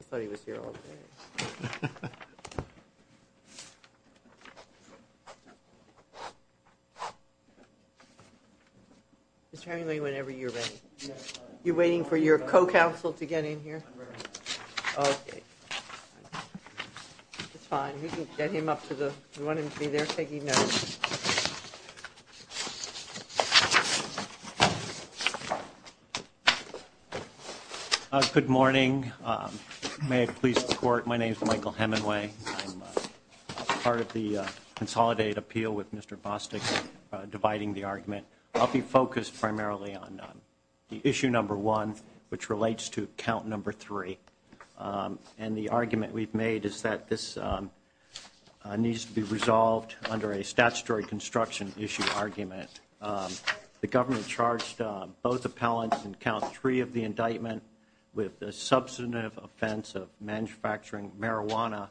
I thought he was here all day. Mr. Hemingway, whenever you're ready. You're waiting for your co-counsel to get in here? Okay. It's fine, you can get him up to the, you want him to be there taking notes? Good morning, may I please report, my name is Michael Hemingway, I'm part of the Consolidate Appeal with Mr. Bostick dividing the argument. I'll be focused primarily on the issue number one, which relates to count number three. And the argument we've made is that this needs to be resolved under a statutory construction issue argument. The government charged both appellants in count three of the indictment with the substantive offense of manufacturing marijuana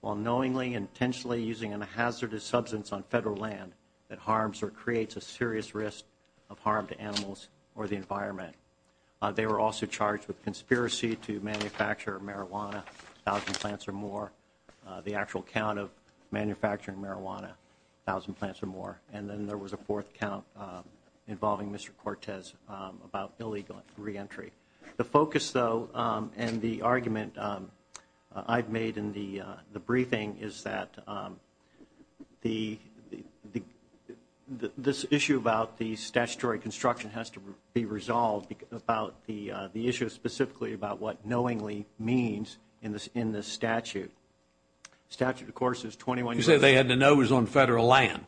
while knowingly and intentionally using a hazardous substance on federal land that harms or creates a serious risk of harm to animals or the environment. They were also charged with conspiracy to manufacture marijuana, a thousand plants or more. The actual count of manufacturing marijuana, a thousand plants or more. And then there was a fourth count involving Mr. Cortez about illegal re-entry. The focus, though, and the argument I've made in the briefing is that this issue about the statutory construction has to be resolved about the issue specifically about what knowingly means in this statute. Statute, of course, is 21 U.S.C. You said they had to know it was on federal land.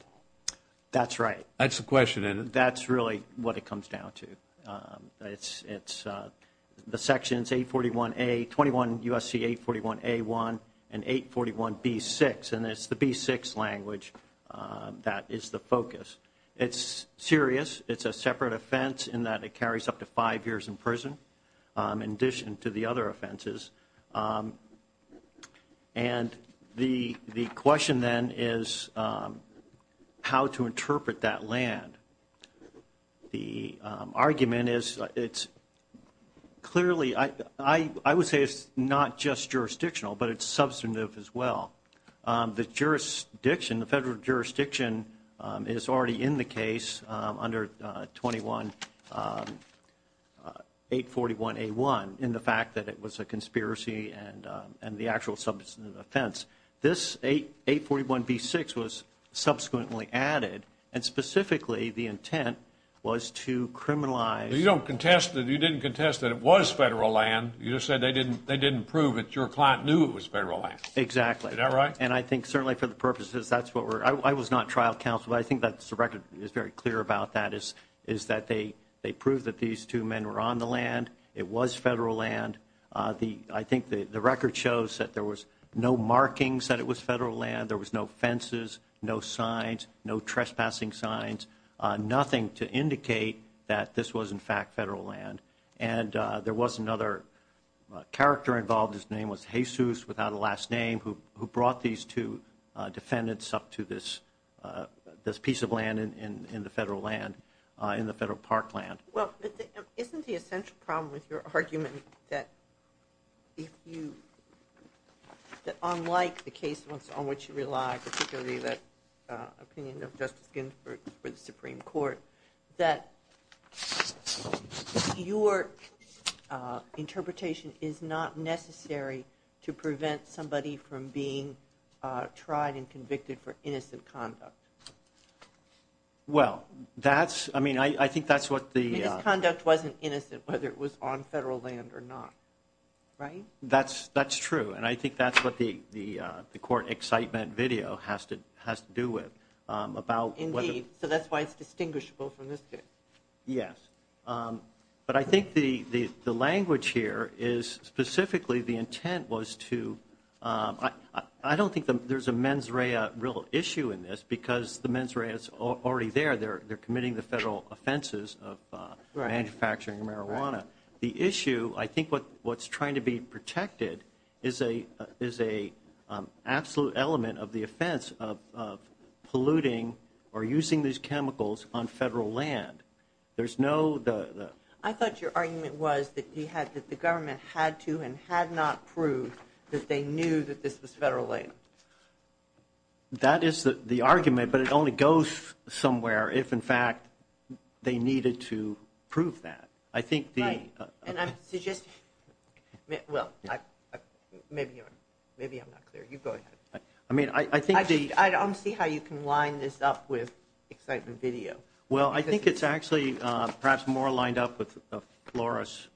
That's right. That's the question, isn't it? That's really what it comes down to. It's the sections 841A, 21 U.S.C. 841A1 and 841B6, and it's the B6 language that is the focus. It's serious. It's a separate offense in that it carries up to five years in prison in addition to the other offenses. And the question then is how to interpret that land. The argument is it's clearly, I would say it's not just jurisdictional, but it's substantive as well. The jurisdiction, the federal jurisdiction is already in the case under 841A1 in the fact that it was a conspiracy and the actual substantive offense. This 841B6 was subsequently added, and specifically the intent was to criminalize. You don't contest it. You didn't contest that it was federal land. You just said they didn't prove it. Your client knew it was federal land. Exactly. Is that right? And I think certainly for the purposes, that's what we're, I was not trial counsel, but I think that the record is very clear about that is that they proved that these two men were on the land. It was federal land. I think the record shows that there was no markings that it was federal land. There was no fences, no signs, no trespassing signs, nothing to indicate that this was in fact federal land. And there was another character involved. His name was Jesus, without a last name, who brought these two defendants up to this piece of land in the federal park land. Well, isn't the essential problem with your argument that if you, that unlike the case on which you rely, particularly that opinion of Justice Ginsburg for the Supreme Court, that your interpretation is not necessary to prevent somebody from being tried and convicted for innocent conduct? Well, that's, I mean, I think that's what the. His conduct wasn't innocent, whether it was on federal land or not, right? That's, that's true. And I think that's what the, the, the court excitement video has to, has to do with about. Indeed, so that's why it's distinguishable from this case. Yes. But I think the, the, the language here is specifically the intent was to I don't think there's a mens rea real issue in this because the mens rea is already there. They're, they're committing the federal offenses of manufacturing marijuana. The issue, I think what, what's trying to be protected is a, is a absolute element of the offense of, of polluting or using these chemicals on federal land. There's no, the, the. I thought your argument was that he had, that the government had to and had not proved that they knew that this was federal land. That is the, the argument, but it only goes somewhere if in fact they needed to prove that. I think the. And I'm suggesting, well, maybe, maybe I'm not clear. You go ahead. I mean, I, I think the. I don't see how you can line this up with excitement video. Well, I think it's actually perhaps more lined up with a Flores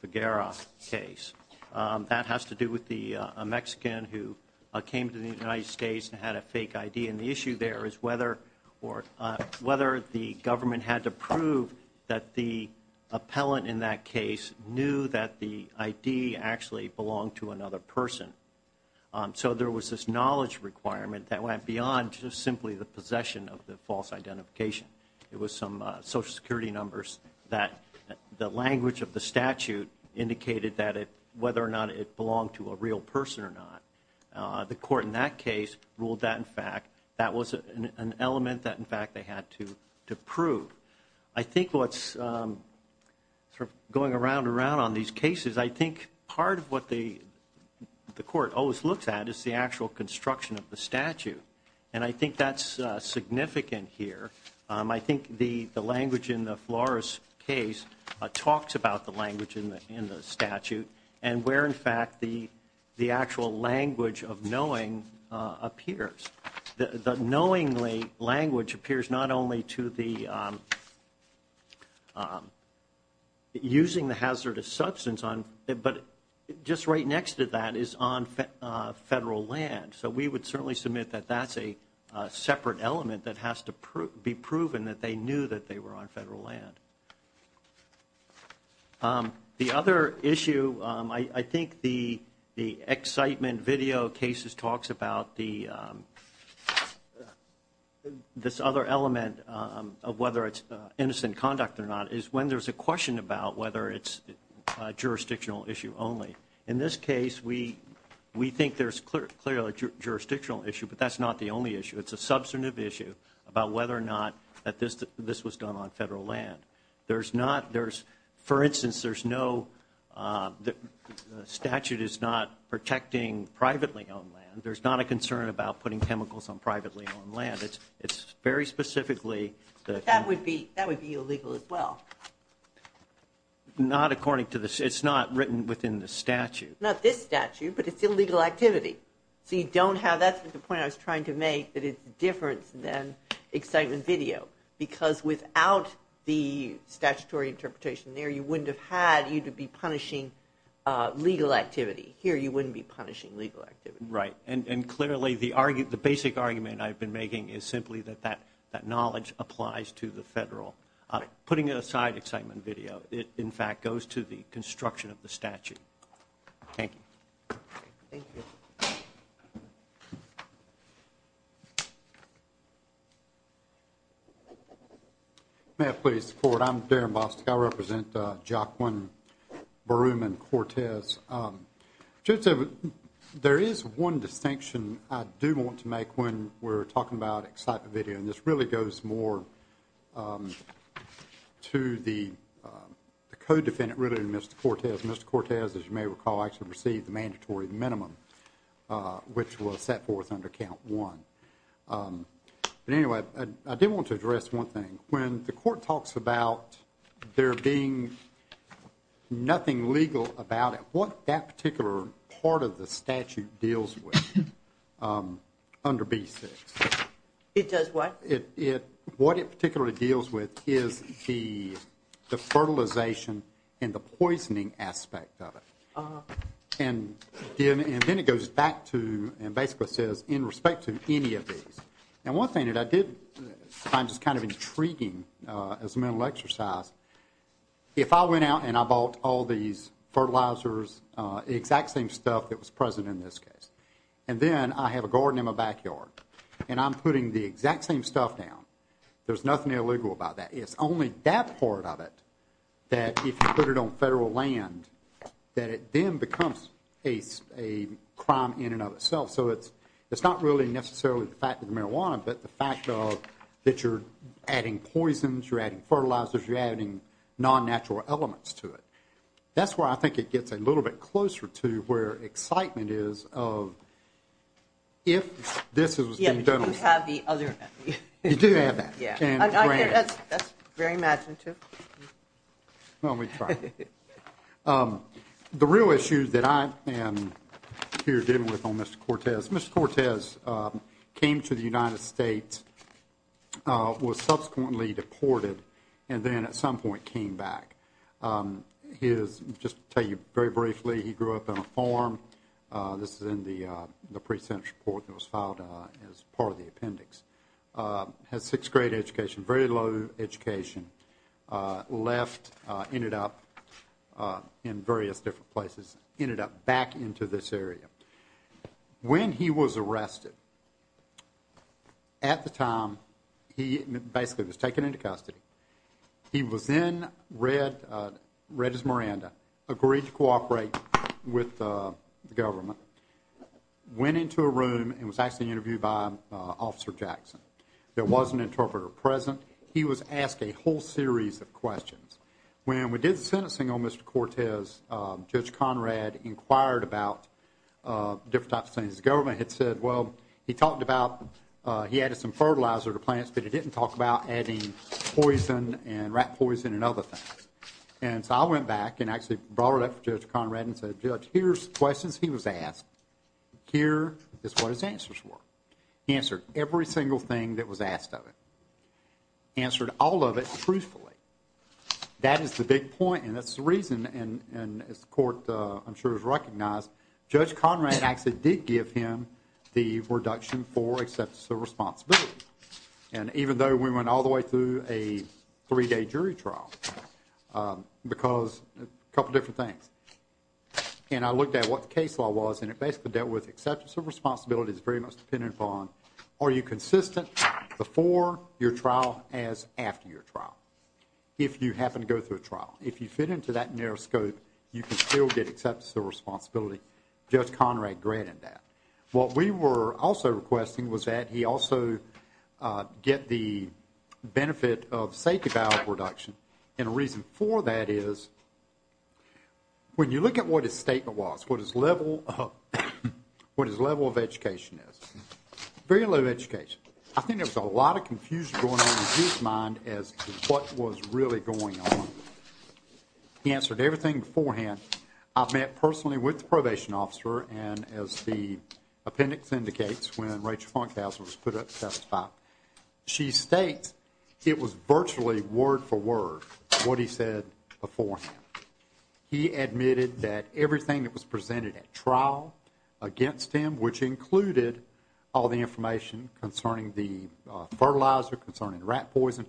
Figueroa case. That has to do with the Mexican who came to the United States and had a fake ID. And the issue there is whether or whether the government had to prove that the appellant in that case knew that the ID actually belonged to another person. So there was this knowledge requirement that went beyond just simply the possession of the false identification. It was some social security numbers that the language of the statute indicated that it, whether or not it belonged to a real person or not. The court in that case ruled that in fact, that was an element that in fact they had to prove. I think what's going around and around on these cases, I think part of what the court always looks at is the actual construction of the statute. And I think that's significant here. I think the language in the Flores case talks about the language in the statute. And where in fact the actual language of knowing appears. The knowingly language appears not only to the using the hazardous substance on, but just right next to that is on federal land. So we would certainly submit that that's a separate element that has to be proven that they knew that they were on federal land. The other issue, I think the excitement video cases talks about the, this other element of whether it's innocent conduct or not, is when there's a question about whether it's a jurisdictional issue only. In this case, we think there's clearly a jurisdictional issue, but that's not the only issue. It's a substantive issue about whether or not that this was done on federal land. There's not, there's, for instance, there's no, the statute is not protecting privately owned land. There's not a concern about putting chemicals on privately owned land. It's, it's very specifically that- That would be, that would be illegal as well. Not according to the, it's not written within the statute. Not this statute, but it's illegal activity. So you don't have, that's the point I was trying to make, that it's different than excitement video. Because without the statutory interpretation there, you wouldn't have had, you'd be punishing legal activity. Here, you wouldn't be punishing legal activity. Right, and clearly the argument, the basic argument I've been making is simply that that, that knowledge applies to the federal. Putting it aside excitement video, it in fact goes to the construction of the statute. Thank you. Thank you. May I please report? I'm Darren Bostick. I represent Joaquin Baruman Cortez. There is one distinction I do want to make when we're talking about excitement video. And this really goes more to the co-defendant really than Mr. Cortez. Mr. Cortez, as you may recall, actually received the mandatory minimum, which was set forth under count one. But anyway, I do want to address one thing. When the court talks about there being nothing legal about it, what that particular part of the statute deals with under B6? It does what? What it particularly deals with is the fertilization and the poisoning aspect of it. And then it goes back to and basically says in respect to any of these. And one thing that I did find just kind of intriguing as a mental exercise, if I went out and I bought all these fertilizers, the exact same stuff that was present in this case, and then I have a garden in my backyard and I'm putting the exact same stuff down, there's nothing illegal about that. It's only that part of it that if you put it on federal land, that it then becomes a crime in and of itself. So it's not really necessarily the fact that it's marijuana, but the fact that you're adding poisons, you're adding fertilizers, you're adding non-natural elements to it. That's where I think it gets a little bit closer to where excitement is of if this was being done. You do have that. That's very imaginative. Let me try. The real issue that I am here dealing with on Mr. Cortez, Mr. Cortez came to the United States, was subsequently deported, and then at some point came back. Just to tell you very briefly, he grew up on a farm. This is in the pre-sentence report that was filed as part of the appendix. Had sixth grade education, very low education. Left, ended up in various different places, ended up back into this area. When he was arrested, at the time, he basically was taken into custody. He was then read as Miranda, agreed to cooperate with the government, went into a room, and was actually interviewed by Officer Jackson. There was an interpreter present. He was asked a whole series of questions. When we did the sentencing on Mr. Cortez, Judge Conrad inquired about different types of things. The government had said, well, he talked about he added some fertilizer to plants, but he didn't talk about adding poison and rat poison and other things. So I went back and actually brought it up to Judge Conrad and said, Judge, here's the questions he was asked. Here is what his answers were. He answered every single thing that was asked of him. Answered all of it truthfully. That is the big point, and that's the reason, and as the court, I'm sure, has recognized, Judge Conrad actually did give him the reduction for acceptance of responsibility. And even though we went all the way through a three-day jury trial, because a couple different things, and I looked at what the case law was, and it basically dealt with acceptance of responsibility. It's very much dependent upon are you consistent before your trial as after your trial, if you happen to go through a trial. If you fit into that narrow scope, you can still get acceptance of responsibility. Judge Conrad granted that. What we were also requesting was that he also get the benefit of safety valve reduction, and a reason for that is when you look at what his statement was, what his level of education is, very low education. I think there was a lot of confusion going on in his mind as to what was really going on. He answered everything beforehand. I met personally with the probation officer, and as the appendix indicates, when Rachel Funkhouser was put up to testify, she states it was virtually word for word what he said beforehand. He admitted that everything that was presented at trial against him, which included all the information concerning the fertilizer, concerning rat poison,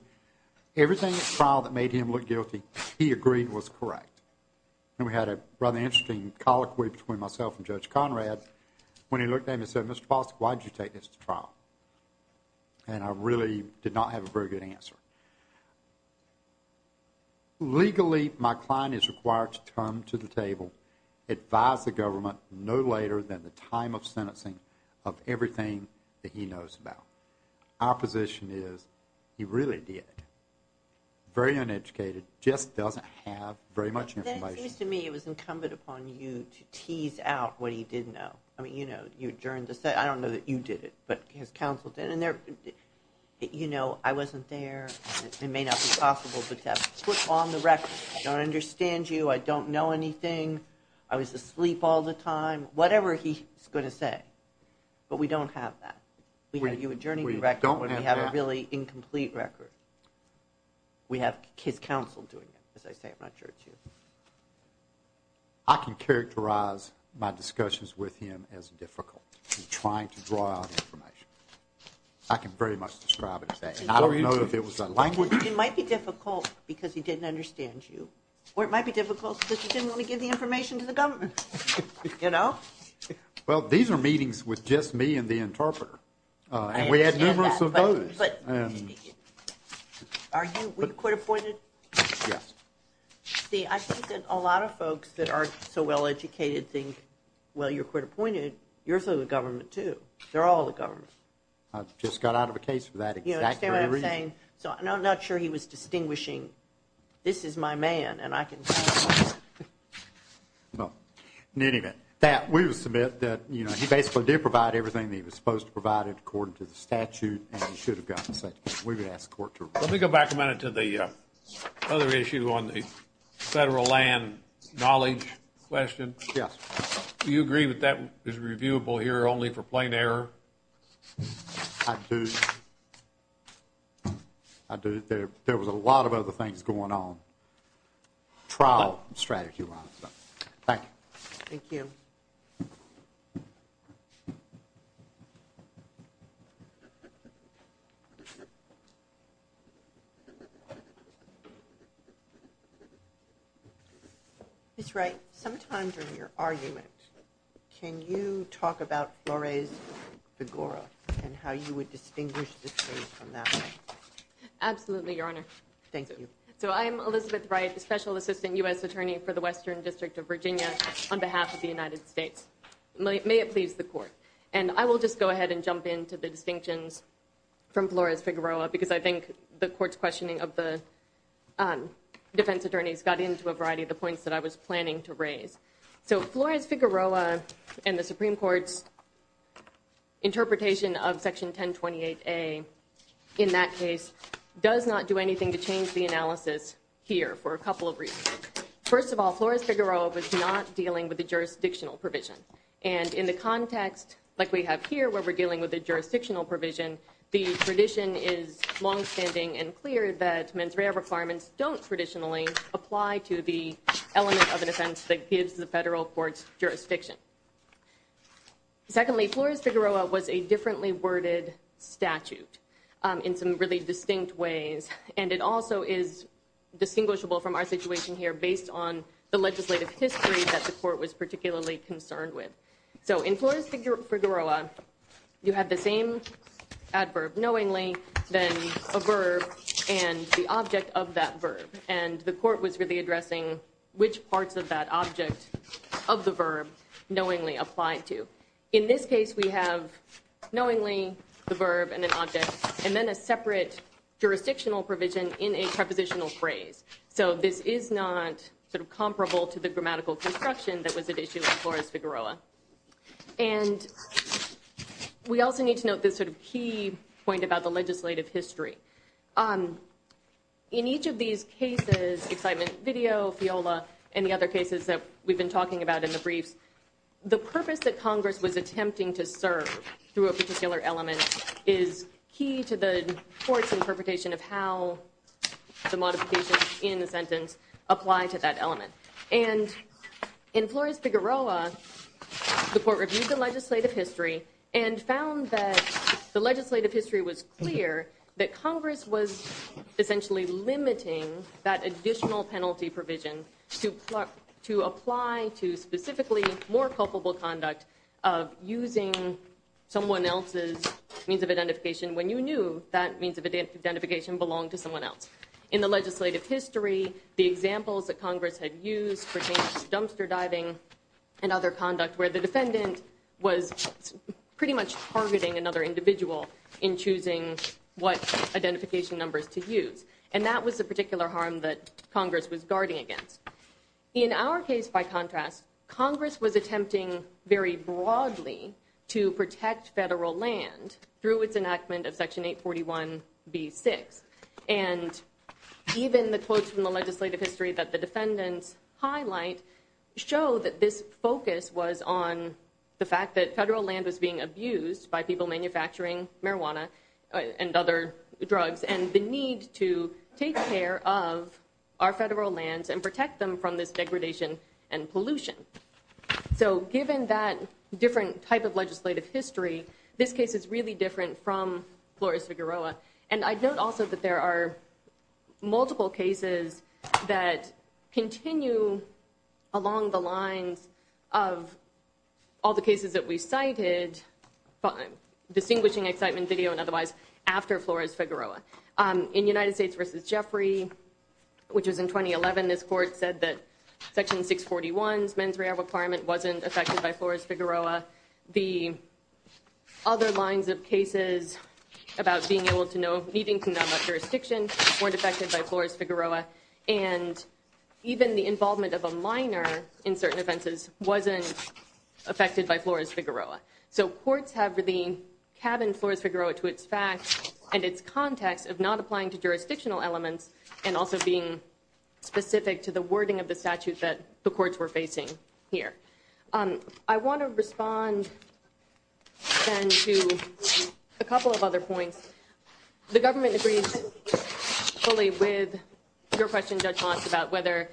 everything at trial that made him look guilty, he agreed was correct. And we had a rather interesting colloquy between myself and Judge Conrad when he looked at me and said, Mr. Bostic, why did you take this to trial? And I really did not have a very good answer. Legally, my client is required to come to the table, advise the government no later than the time of sentencing of everything that he knows about. Our position is he really did. Very uneducated. Just doesn't have very much information. That seems to me it was incumbent upon you to tease out what he didn't know. I mean, you know, you adjourned the session. I don't know that you did it, but his counsel did. And, you know, I wasn't there. It may not be possible, but to put on the record I don't understand you. I don't know anything. I was asleep all the time. Whatever he's going to say. But we don't have that. We have you adjourning the record when we have a really incomplete record. We have his counsel doing it, as I say. I'm not sure it's you. I can characterize my discussions with him as difficult. He's trying to draw out information. I can very much describe it as that. And I don't know if it was a language. It might be difficult because he didn't understand you. Or it might be difficult because he didn't want to give the information to the government. You know? Well, these are meetings with just me and the interpreter. And we had numerous of those. Are you court-appointed? Yes. See, I think that a lot of folks that are so well-educated think, well, you're court-appointed. You're through the government, too. They're all the government. You understand what I'm saying? So I'm not sure he was distinguishing, this is my man, and I can tell. In any event, we will submit that he basically did provide everything that he was supposed to provide according to the statute, and he should have gotten it. We would ask the court to approve it. Let me go back a minute to the other issue on the federal land knowledge question. Yes. Do you agree that that is reviewable here only for plain error? I do. There was a lot of other things going on, trial strategy-wise. Thank you. Thank you. Ms. Wright, sometimes in your argument, can you talk about Flores-Figueroa and how you would distinguish this case from that one? Absolutely, Your Honor. Thank you. So I'm Elizabeth Wright, Special Assistant U.S. Attorney for the Western District of Virginia on behalf of the United States. May it please the Court. And I will just go ahead and jump into the distinctions from Flores-Figueroa because I think the Court's questioning of the defense attorneys got into a variety of the points that I was planning to raise. So Flores-Figueroa and the Supreme Court's interpretation of Section 1028A in that case does not do anything to change the analysis here for a couple of reasons. First of all, Flores-Figueroa was not dealing with a jurisdictional provision. And in the context like we have here where we're dealing with a jurisdictional provision, the tradition is longstanding and clear that mens rea requirements don't traditionally apply to the element of an offense that gives the federal court's jurisdiction. Secondly, Flores-Figueroa was a differently worded statute in some really distinct ways. And it also is distinguishable from our situation here based on the legislative history that the Court was particularly concerned with. So in Flores-Figueroa, you have the same adverb knowingly than a verb and the object of that verb. And the Court was really addressing which parts of that object of the verb knowingly applied to. In this case, we have knowingly, the verb and an object, and then a separate jurisdictional provision in a prepositional phrase. So this is not comparable to the grammatical construction that was at issue in Flores-Figueroa. And we also need to note this key point about the legislative history. In each of these cases, Excitement Video, FIOLA, and the other cases that we've been talking about in the briefs, the purpose that Congress was attempting to serve through a particular element is key to the Court's interpretation of how the modifications in the sentence apply to that element. And in Flores-Figueroa, the Court reviewed the legislative history and found that the legislative history was clear that Congress was essentially limiting that additional penalty provision to apply to specifically more culpable conduct of using someone else's means of identification when you knew that means of identification belonged to someone else. In the legislative history, the examples that Congress had used pertained to dumpster diving and other conduct where the defendant was pretty much targeting another individual in choosing what identification numbers to use. And that was the particular harm that Congress was guarding against. In our case, by contrast, Congress was attempting very broadly to protect federal land through its enactment of Section 841b6. And even the quotes from the legislative history that the defendants highlight show that this focus was on the fact that federal land was being abused by people manufacturing marijuana and other drugs and the need to take care of our federal lands and protect them from this degradation and pollution. So given that different type of legislative history, this case is really different from Flores-Figueroa. And I'd note also that there are multiple cases that continue along the lines of all the cases that we cited, distinguishing excitement video and otherwise, after Flores-Figueroa. In United States v. Jeffrey, which was in 2011, this court said that Section 641's mens rea requirement wasn't affected by Flores-Figueroa. The other lines of cases about being able to know, needing to know about jurisdiction weren't affected by Flores-Figueroa. And even the involvement of a minor in certain offenses wasn't affected by Flores-Figueroa. So courts have really cabined Flores-Figueroa to its facts and its context of not applying to jurisdictional elements and also being specific to the wording of the statute that the courts were facing here. I want to respond then to a couple of other points. The government agrees fully with your question, Judge Moss, about whether,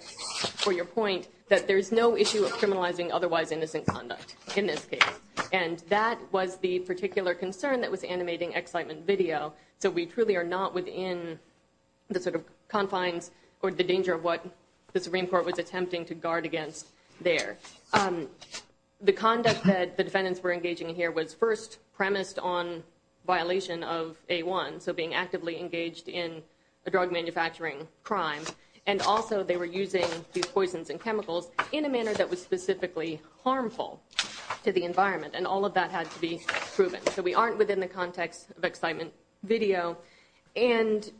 for your point, that there's no issue of criminalizing otherwise innocent conduct in this case. And that was the particular concern that was animating excitement video. So we truly are not within the sort of confines or the danger of what the Supreme Court was attempting to guard against there. The conduct that the defendants were engaging in here was first premised on violation of A-1, so being actively engaged in a drug manufacturing crime. And also they were using these poisons and chemicals in a manner that was specifically harmful to the environment. And all of that had to be proven. So we aren't within the context of excitement video. And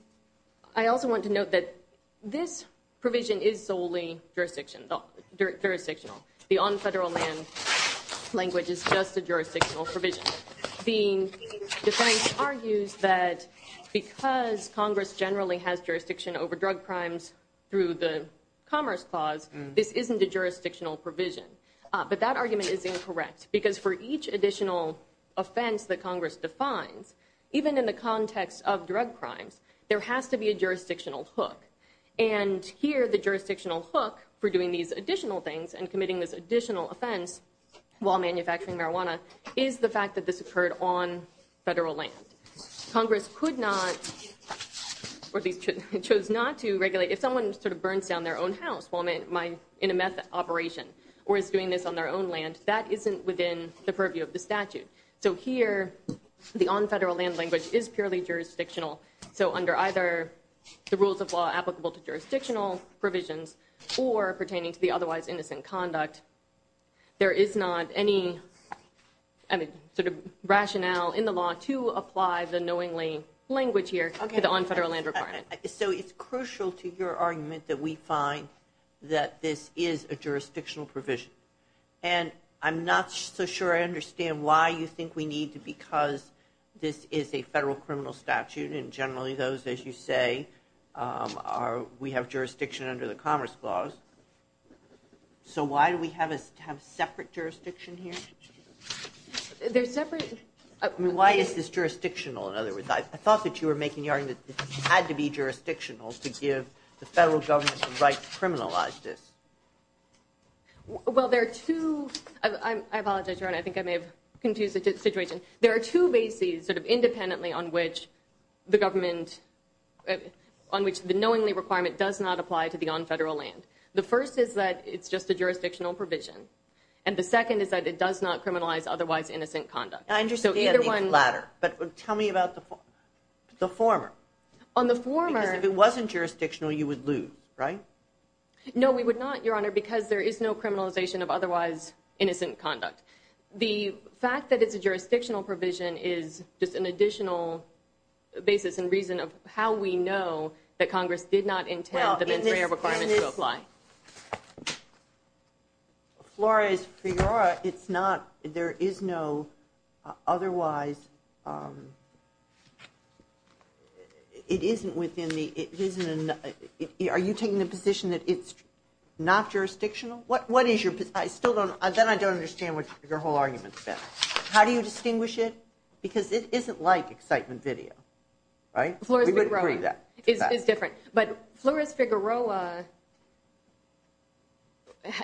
I also want to note that this provision is solely jurisdictional. The on federal land language is just a jurisdictional provision. The defense argues that because Congress generally has jurisdiction over drug crimes through the Commerce Clause, this isn't a jurisdictional provision. But that argument is incorrect. Because for each additional offense that Congress defines, even in the context of drug crimes, there has to be a jurisdictional hook. And here the jurisdictional hook for doing these additional things and committing this additional offense while manufacturing marijuana is the fact that this occurred on federal land. Congress could not, or at least chose not to regulate, if someone sort of burns down their own house while in a meth operation or is doing this on their own land, that isn't within the purview of the statute. So here the on federal land language is purely jurisdictional. So under either the rules of law applicable to jurisdictional provisions or pertaining to the otherwise innocent conduct, there is not any sort of rationale in the law to apply the knowingly language here to the on federal land requirement. So it's crucial to your argument that we find that this is a jurisdictional provision. And I'm not so sure I understand why you think we need to because this is a federal criminal statute and generally those, as you say, we have jurisdiction under the Commerce Clause. So why do we have separate jurisdiction here? Why is this jurisdictional? I thought that you were making the argument that it had to be jurisdictional to give the federal government the right to criminalize this. Well, there are two, I apologize, I think I may have confused the situation, there are two bases sort of independently on which the government, on which the knowingly requirement does not apply to the on federal land. The first is that it's just a jurisdictional provision and the second is that it does not criminalize otherwise innocent conduct. I understand the latter, but tell me about the former. On the former... Because if it wasn't jurisdictional you would lose, right? No, we would not, Your Honor, because there is no criminalization of otherwise innocent conduct. The fact that it's a jurisdictional provision is just an additional basis and reason of how we know that Congress did not intend the mens rea requirement to apply. Flores-Figueroa, it's not, there is no otherwise, it isn't within the, it isn't, are you taking the position that it's not jurisdictional? What is your, I still don't, then I don't understand what your whole argument's been. How do you distinguish it? Because it isn't like excitement video, right? Flores-Figueroa is different. But Flores-Figueroa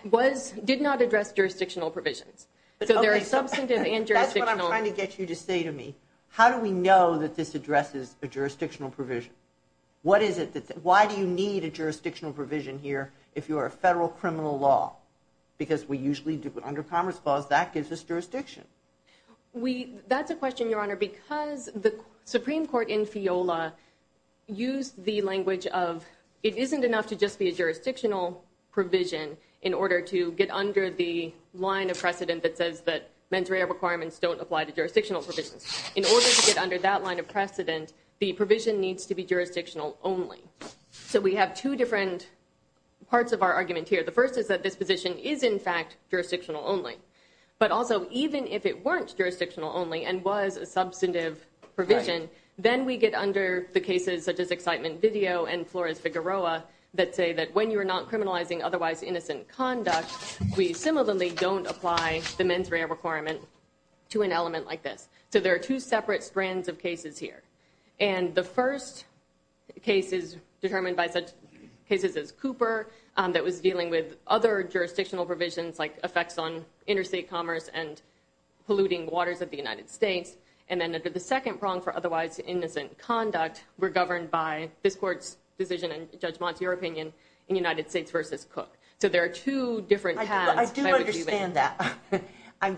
was, did not address jurisdictional provisions. So there are substantive and jurisdictional... That's what I'm trying to get you to say to me. How do we know that this addresses a jurisdictional provision? What is it that, why do you need a jurisdictional provision here if you're a federal criminal law? Because we usually do it under Commerce Clause, that gives us jurisdiction. That's a question, Your Honor, because the Supreme Court in FIOLA used the language of, it isn't enough to just be a jurisdictional provision in order to get under the line of precedent that says that mens rea requirements don't apply to jurisdictional provisions. In order to get under that line of precedent, the provision needs to be jurisdictional only. So we have two different parts of our argument here. The first is that this position is in fact jurisdictional only. But also, even if it weren't jurisdictional only and was a substantive provision, then we get under the cases such as Excitement Video and Flores-Figueroa that say that when you are not criminalizing otherwise innocent conduct, we similarly don't apply the mens rea requirement to an element like this. So there are two separate strands of cases here. And the first case is determined by such cases as Cooper, that was dealing with other jurisdictional provisions like effects on interstate commerce and polluting waters of the United States. And then under the second prong for otherwise innocent conduct, were governed by this Court's decision and judgment, in your opinion, in United States v. Cook. So there are two different paths. I do understand that. And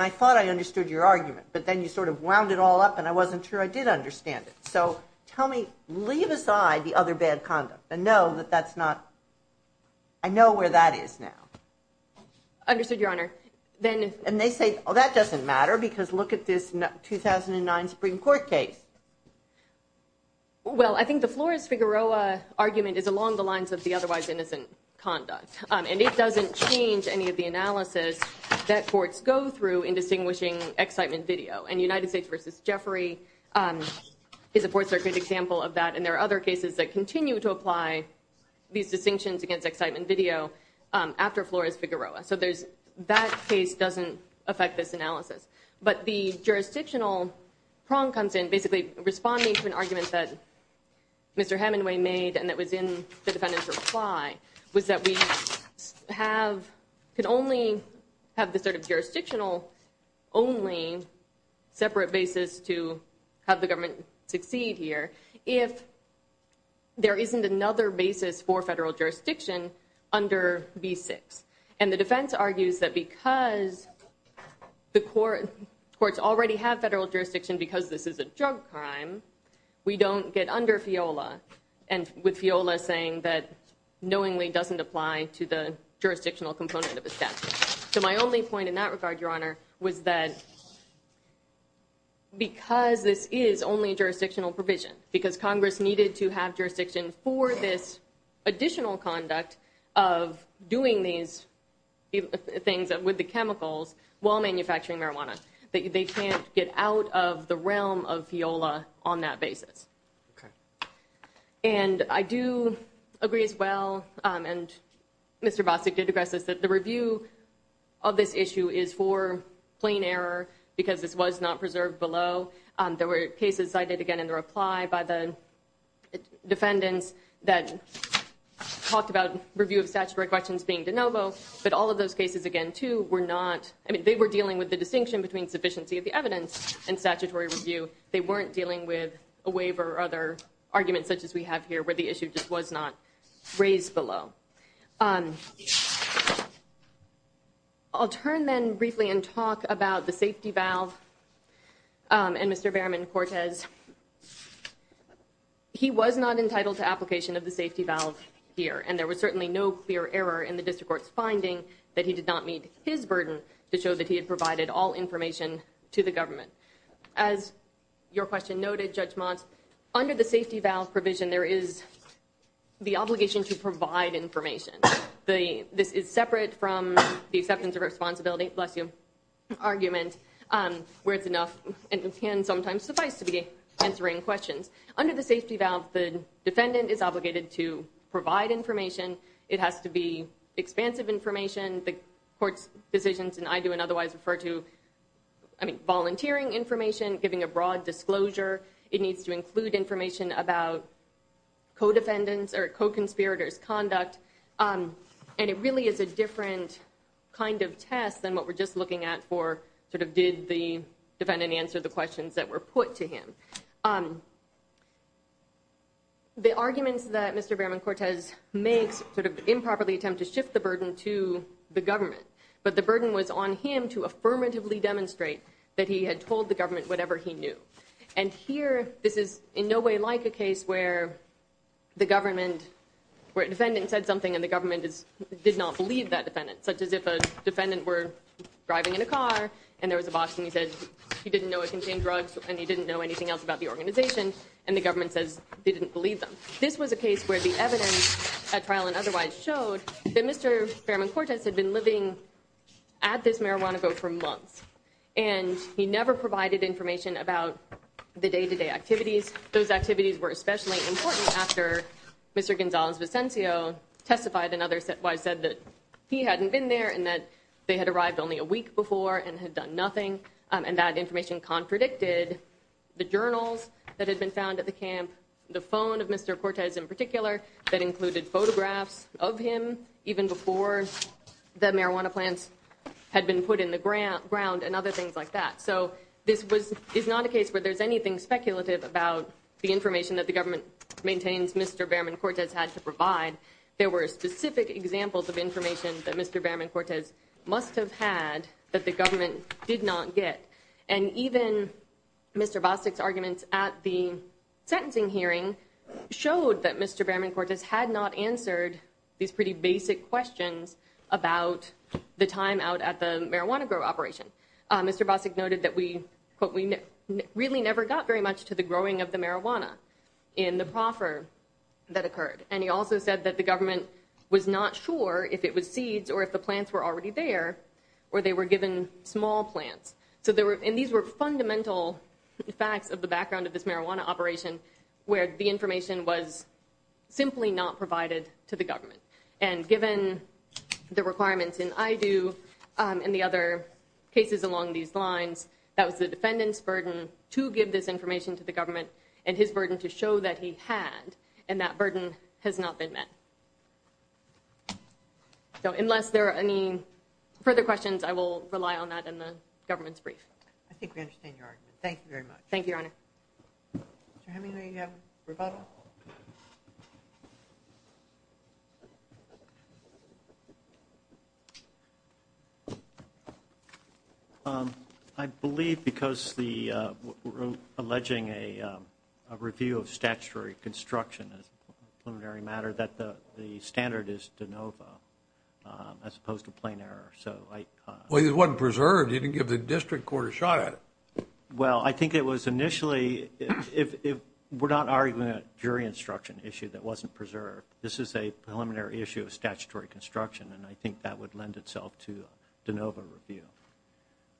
I thought I understood your argument. But then you sort of wound it all up, and I wasn't sure I did understand it. So tell me, leave aside the other bad conduct and know that that's not, I know where that is now. Understood, Your Honor. And they say, oh, that doesn't matter because look at this 2009 Supreme Court case. Well, I think the Flores-Figueroa argument is along the lines of the otherwise innocent conduct. And it doesn't change any of the analysis that courts go through in distinguishing Excitement Video. And United States v. Jeffrey is, of course, a good example of that. And there are other cases that continue to apply these distinctions against Excitement Video after Flores-Figueroa. So that case doesn't affect this analysis. But the jurisdictional prong comes in basically responding to an argument that Mr. Hemingway made and that was in the defendant's reply was that we could only have the sort of jurisdictional only separate basis to have the government succeed here if there isn't another basis for federal jurisdiction under B-6. And the defense argues that because the courts already have federal jurisdiction because this is a drug crime, we don't get under FIOLA with FIOLA saying that knowingly doesn't apply to the jurisdictional component of a statute. So my only point in that regard, Your Honor, was that because this is only jurisdictional provision, because Congress needed to have jurisdiction for this additional conduct of doing these things with the chemicals while manufacturing marijuana, that they can't get out of the realm of FIOLA on that basis. And I do agree as well, and Mr. Bostic did address this, that the review of this issue is for plain error because this was not preserved below. There were cases cited again in the reply by the defendants that talked about review of statutory questions being de novo, but all of those cases again, too, were not, I mean, they were dealing with the distinction between sufficiency of the evidence and statutory review. They weren't dealing with a waiver or other arguments such as we have here where the issue just was not raised below. I'll turn then briefly and talk about the safety valve and Mr. Berriman-Cortez. He was not entitled to application of the safety valve here, and there was certainly no clear error in the district court's finding that he did not meet his burden to show that he had provided all information to the government. As your question noted, Judge Mott, under the safety valve provision, there is the obligation to provide information. This is separate from the acceptance of responsibility, bless you, argument where it's enough and can sometimes suffice to be answering questions. Under the safety valve, the defendant is obligated to provide information. It has to be expansive information. The court's decisions and I do and otherwise refer to, I mean, volunteering information, giving a broad disclosure. It needs to include information about co-defendants' or co-conspirators' conduct, and it really is a different kind of test than what we're just looking at for sort of did the defendant answer the questions that were put to him. The arguments that Mr. Berriman-Cortez makes sort of improperly attempt to shift the burden to the government, but the burden was on him to affirmatively demonstrate that he had told the government whatever he knew. And here, this is in no way like a case where the government, where a defendant said something and the government did not believe that defendant, such as if a defendant were driving in a car and there was a box and he said he didn't know it contained drugs and he didn't know anything else about the organization and the government says they didn't believe them. This was a case where the evidence at trial and otherwise showed that Mr. Berriman-Cortez had been living at this marijuana go for months and he never provided information about the day-to-day activities. Those activities were especially important after Mr. Gonzalez-Vicencio testified and others said that he hadn't been there and that they had arrived only a week before and had done nothing, and that information contradicted the journals that had been found at the camp, the phone of Mr. Cortez in particular that included photographs of him even before the marijuana plants had been put in the ground and other things like that. So this is not a case where there's anything speculative about the information that the government maintains Mr. Berriman-Cortez had to provide. There were specific examples of information that Mr. Berriman-Cortez must have had that the government did not get. And even Mr. Bostic's arguments at the sentencing hearing showed that Mr. Berriman-Cortez had not answered these pretty basic questions about the time out at the marijuana grow operation. Mr. Bostic noted that we, quote, we really never got very much to the growing of the marijuana in the proffer that occurred. And he also said that the government was not sure if it was seeds or if the plants were already there or they were given small plants. And these were fundamental facts of the background of this marijuana operation where the information was simply not provided to the government. And given the requirements in IDU and the other cases along these lines, that was the defendant's burden to give this information to the government and his burden to show that he had, and that burden has not been met. So unless there are any further questions, I will rely on that in the government's brief. I think we understand your argument. Thank you very much. Thank you, Your Honor. Mr. Hemingway, do you have a rebuttal? No. I believe because we're alleging a review of statutory construction, a preliminary matter, that the standard is de novo as opposed to plain error. Well, it wasn't preserved. You didn't give the district court a shot at it. Well, I think it was initially – we're not arguing a jury instruction issue that wasn't preserved. This is a preliminary issue of statutory construction, and I think that would lend itself to a de novo review.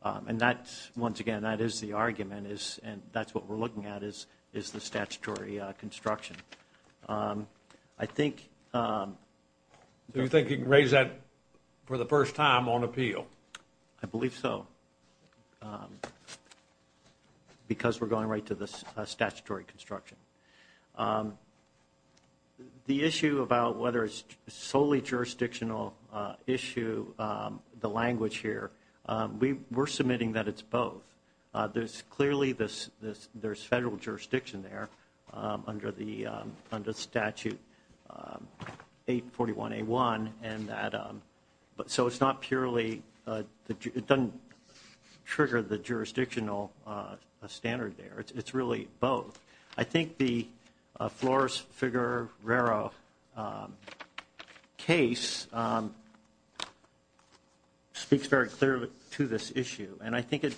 And that's – once again, that is the argument, and that's what we're looking at is the statutory construction. I think – Do you think you can raise that for the first time on appeal? I believe so because we're going right to the statutory construction. The issue about whether it's solely jurisdictional issue, the language here, we're submitting that it's both. There's clearly – there's federal jurisdiction there under the statute 841A1, and that – so it's not purely – it doesn't trigger the jurisdictional standard there. It's really both. I think the Flores-Figueroa case speaks very clearly to this issue, and I think it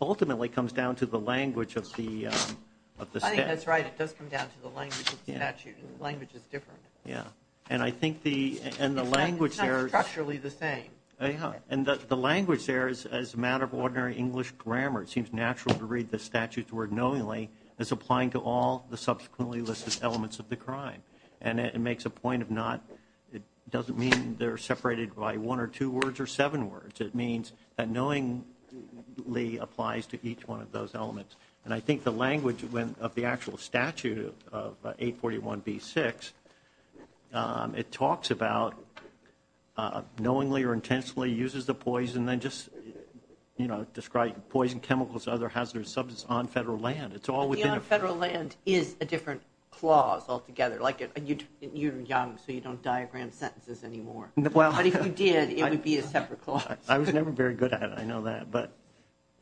ultimately comes down to the language of the statute. I think that's right. It does come down to the language of the statute, and the language is different. Yeah, and I think the – and the language there – It's not structurally the same. Yeah, and the language there is as a matter of ordinary English grammar. It seems natural to read the statute's word knowingly as applying to all the subsequently listed elements of the crime. And it makes a point of not – it doesn't mean they're separated by one or two words or seven words. It means that knowingly applies to each one of those elements. And I think the language of the actual statute of 841B6, it talks about knowingly or intentionally uses the poison, then just, you know, describe poison, chemicals, other hazardous substances on federal land. It's all within a – But the on federal land is a different clause altogether. Like, you're young, so you don't diagram sentences anymore. Well – But if you did, it would be a separate clause. I was never very good at it. I know that. But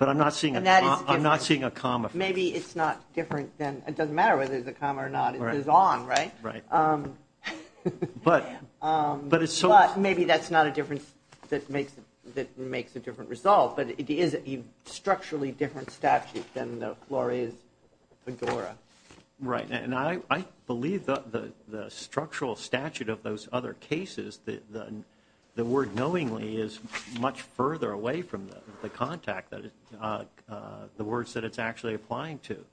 I'm not seeing a – And that is different. I'm not seeing a comma. Maybe it's not different than – it doesn't matter whether there's a comma or not. It is on, right? Right. But it's so – But maybe that's not a difference that makes a different result. But it is a structurally different statute than the Flores-Fedora. Right. And I believe the structural statute of those other cases, the word knowingly is much further away from the contact, the words that it's actually applying to.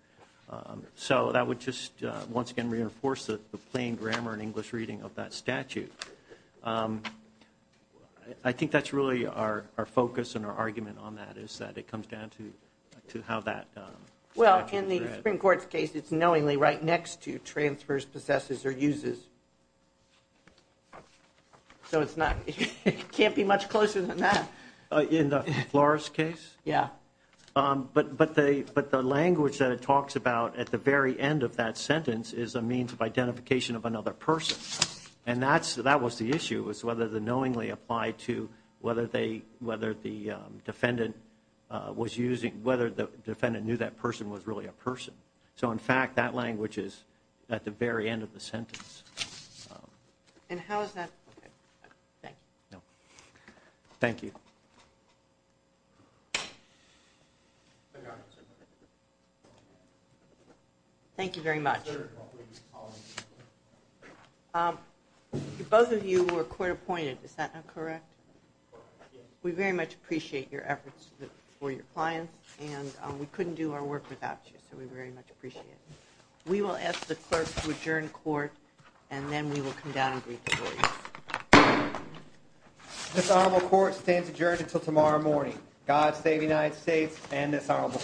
So that would just, once again, reinforce the plain grammar and English reading of that statute. I think that's really our focus and our argument on that is that it comes down to how that statute is read. In the Supreme Court's case, it's knowingly right next to transfers, possesses, or uses. So it's not – it can't be much closer than that. In the Flores case? Yeah. But the language that it talks about at the very end of that sentence is a means of identification of another person. And that was the issue, was whether the knowingly applied to whether the defendant was using – whether the defendant knew that person was really a person. So, in fact, that language is at the very end of the sentence. And how is that – okay. Thank you. No. Thank you. Thank you. Thank you very much. Both of you were court-appointed. Is that not correct? We very much appreciate your efforts for your clients, and we couldn't do our work without you. So we very much appreciate it. We will ask the clerk to adjourn court, and then we will come down and brief the board. This honorable court stands adjourned until tomorrow morning. God save the United States and this honorable court.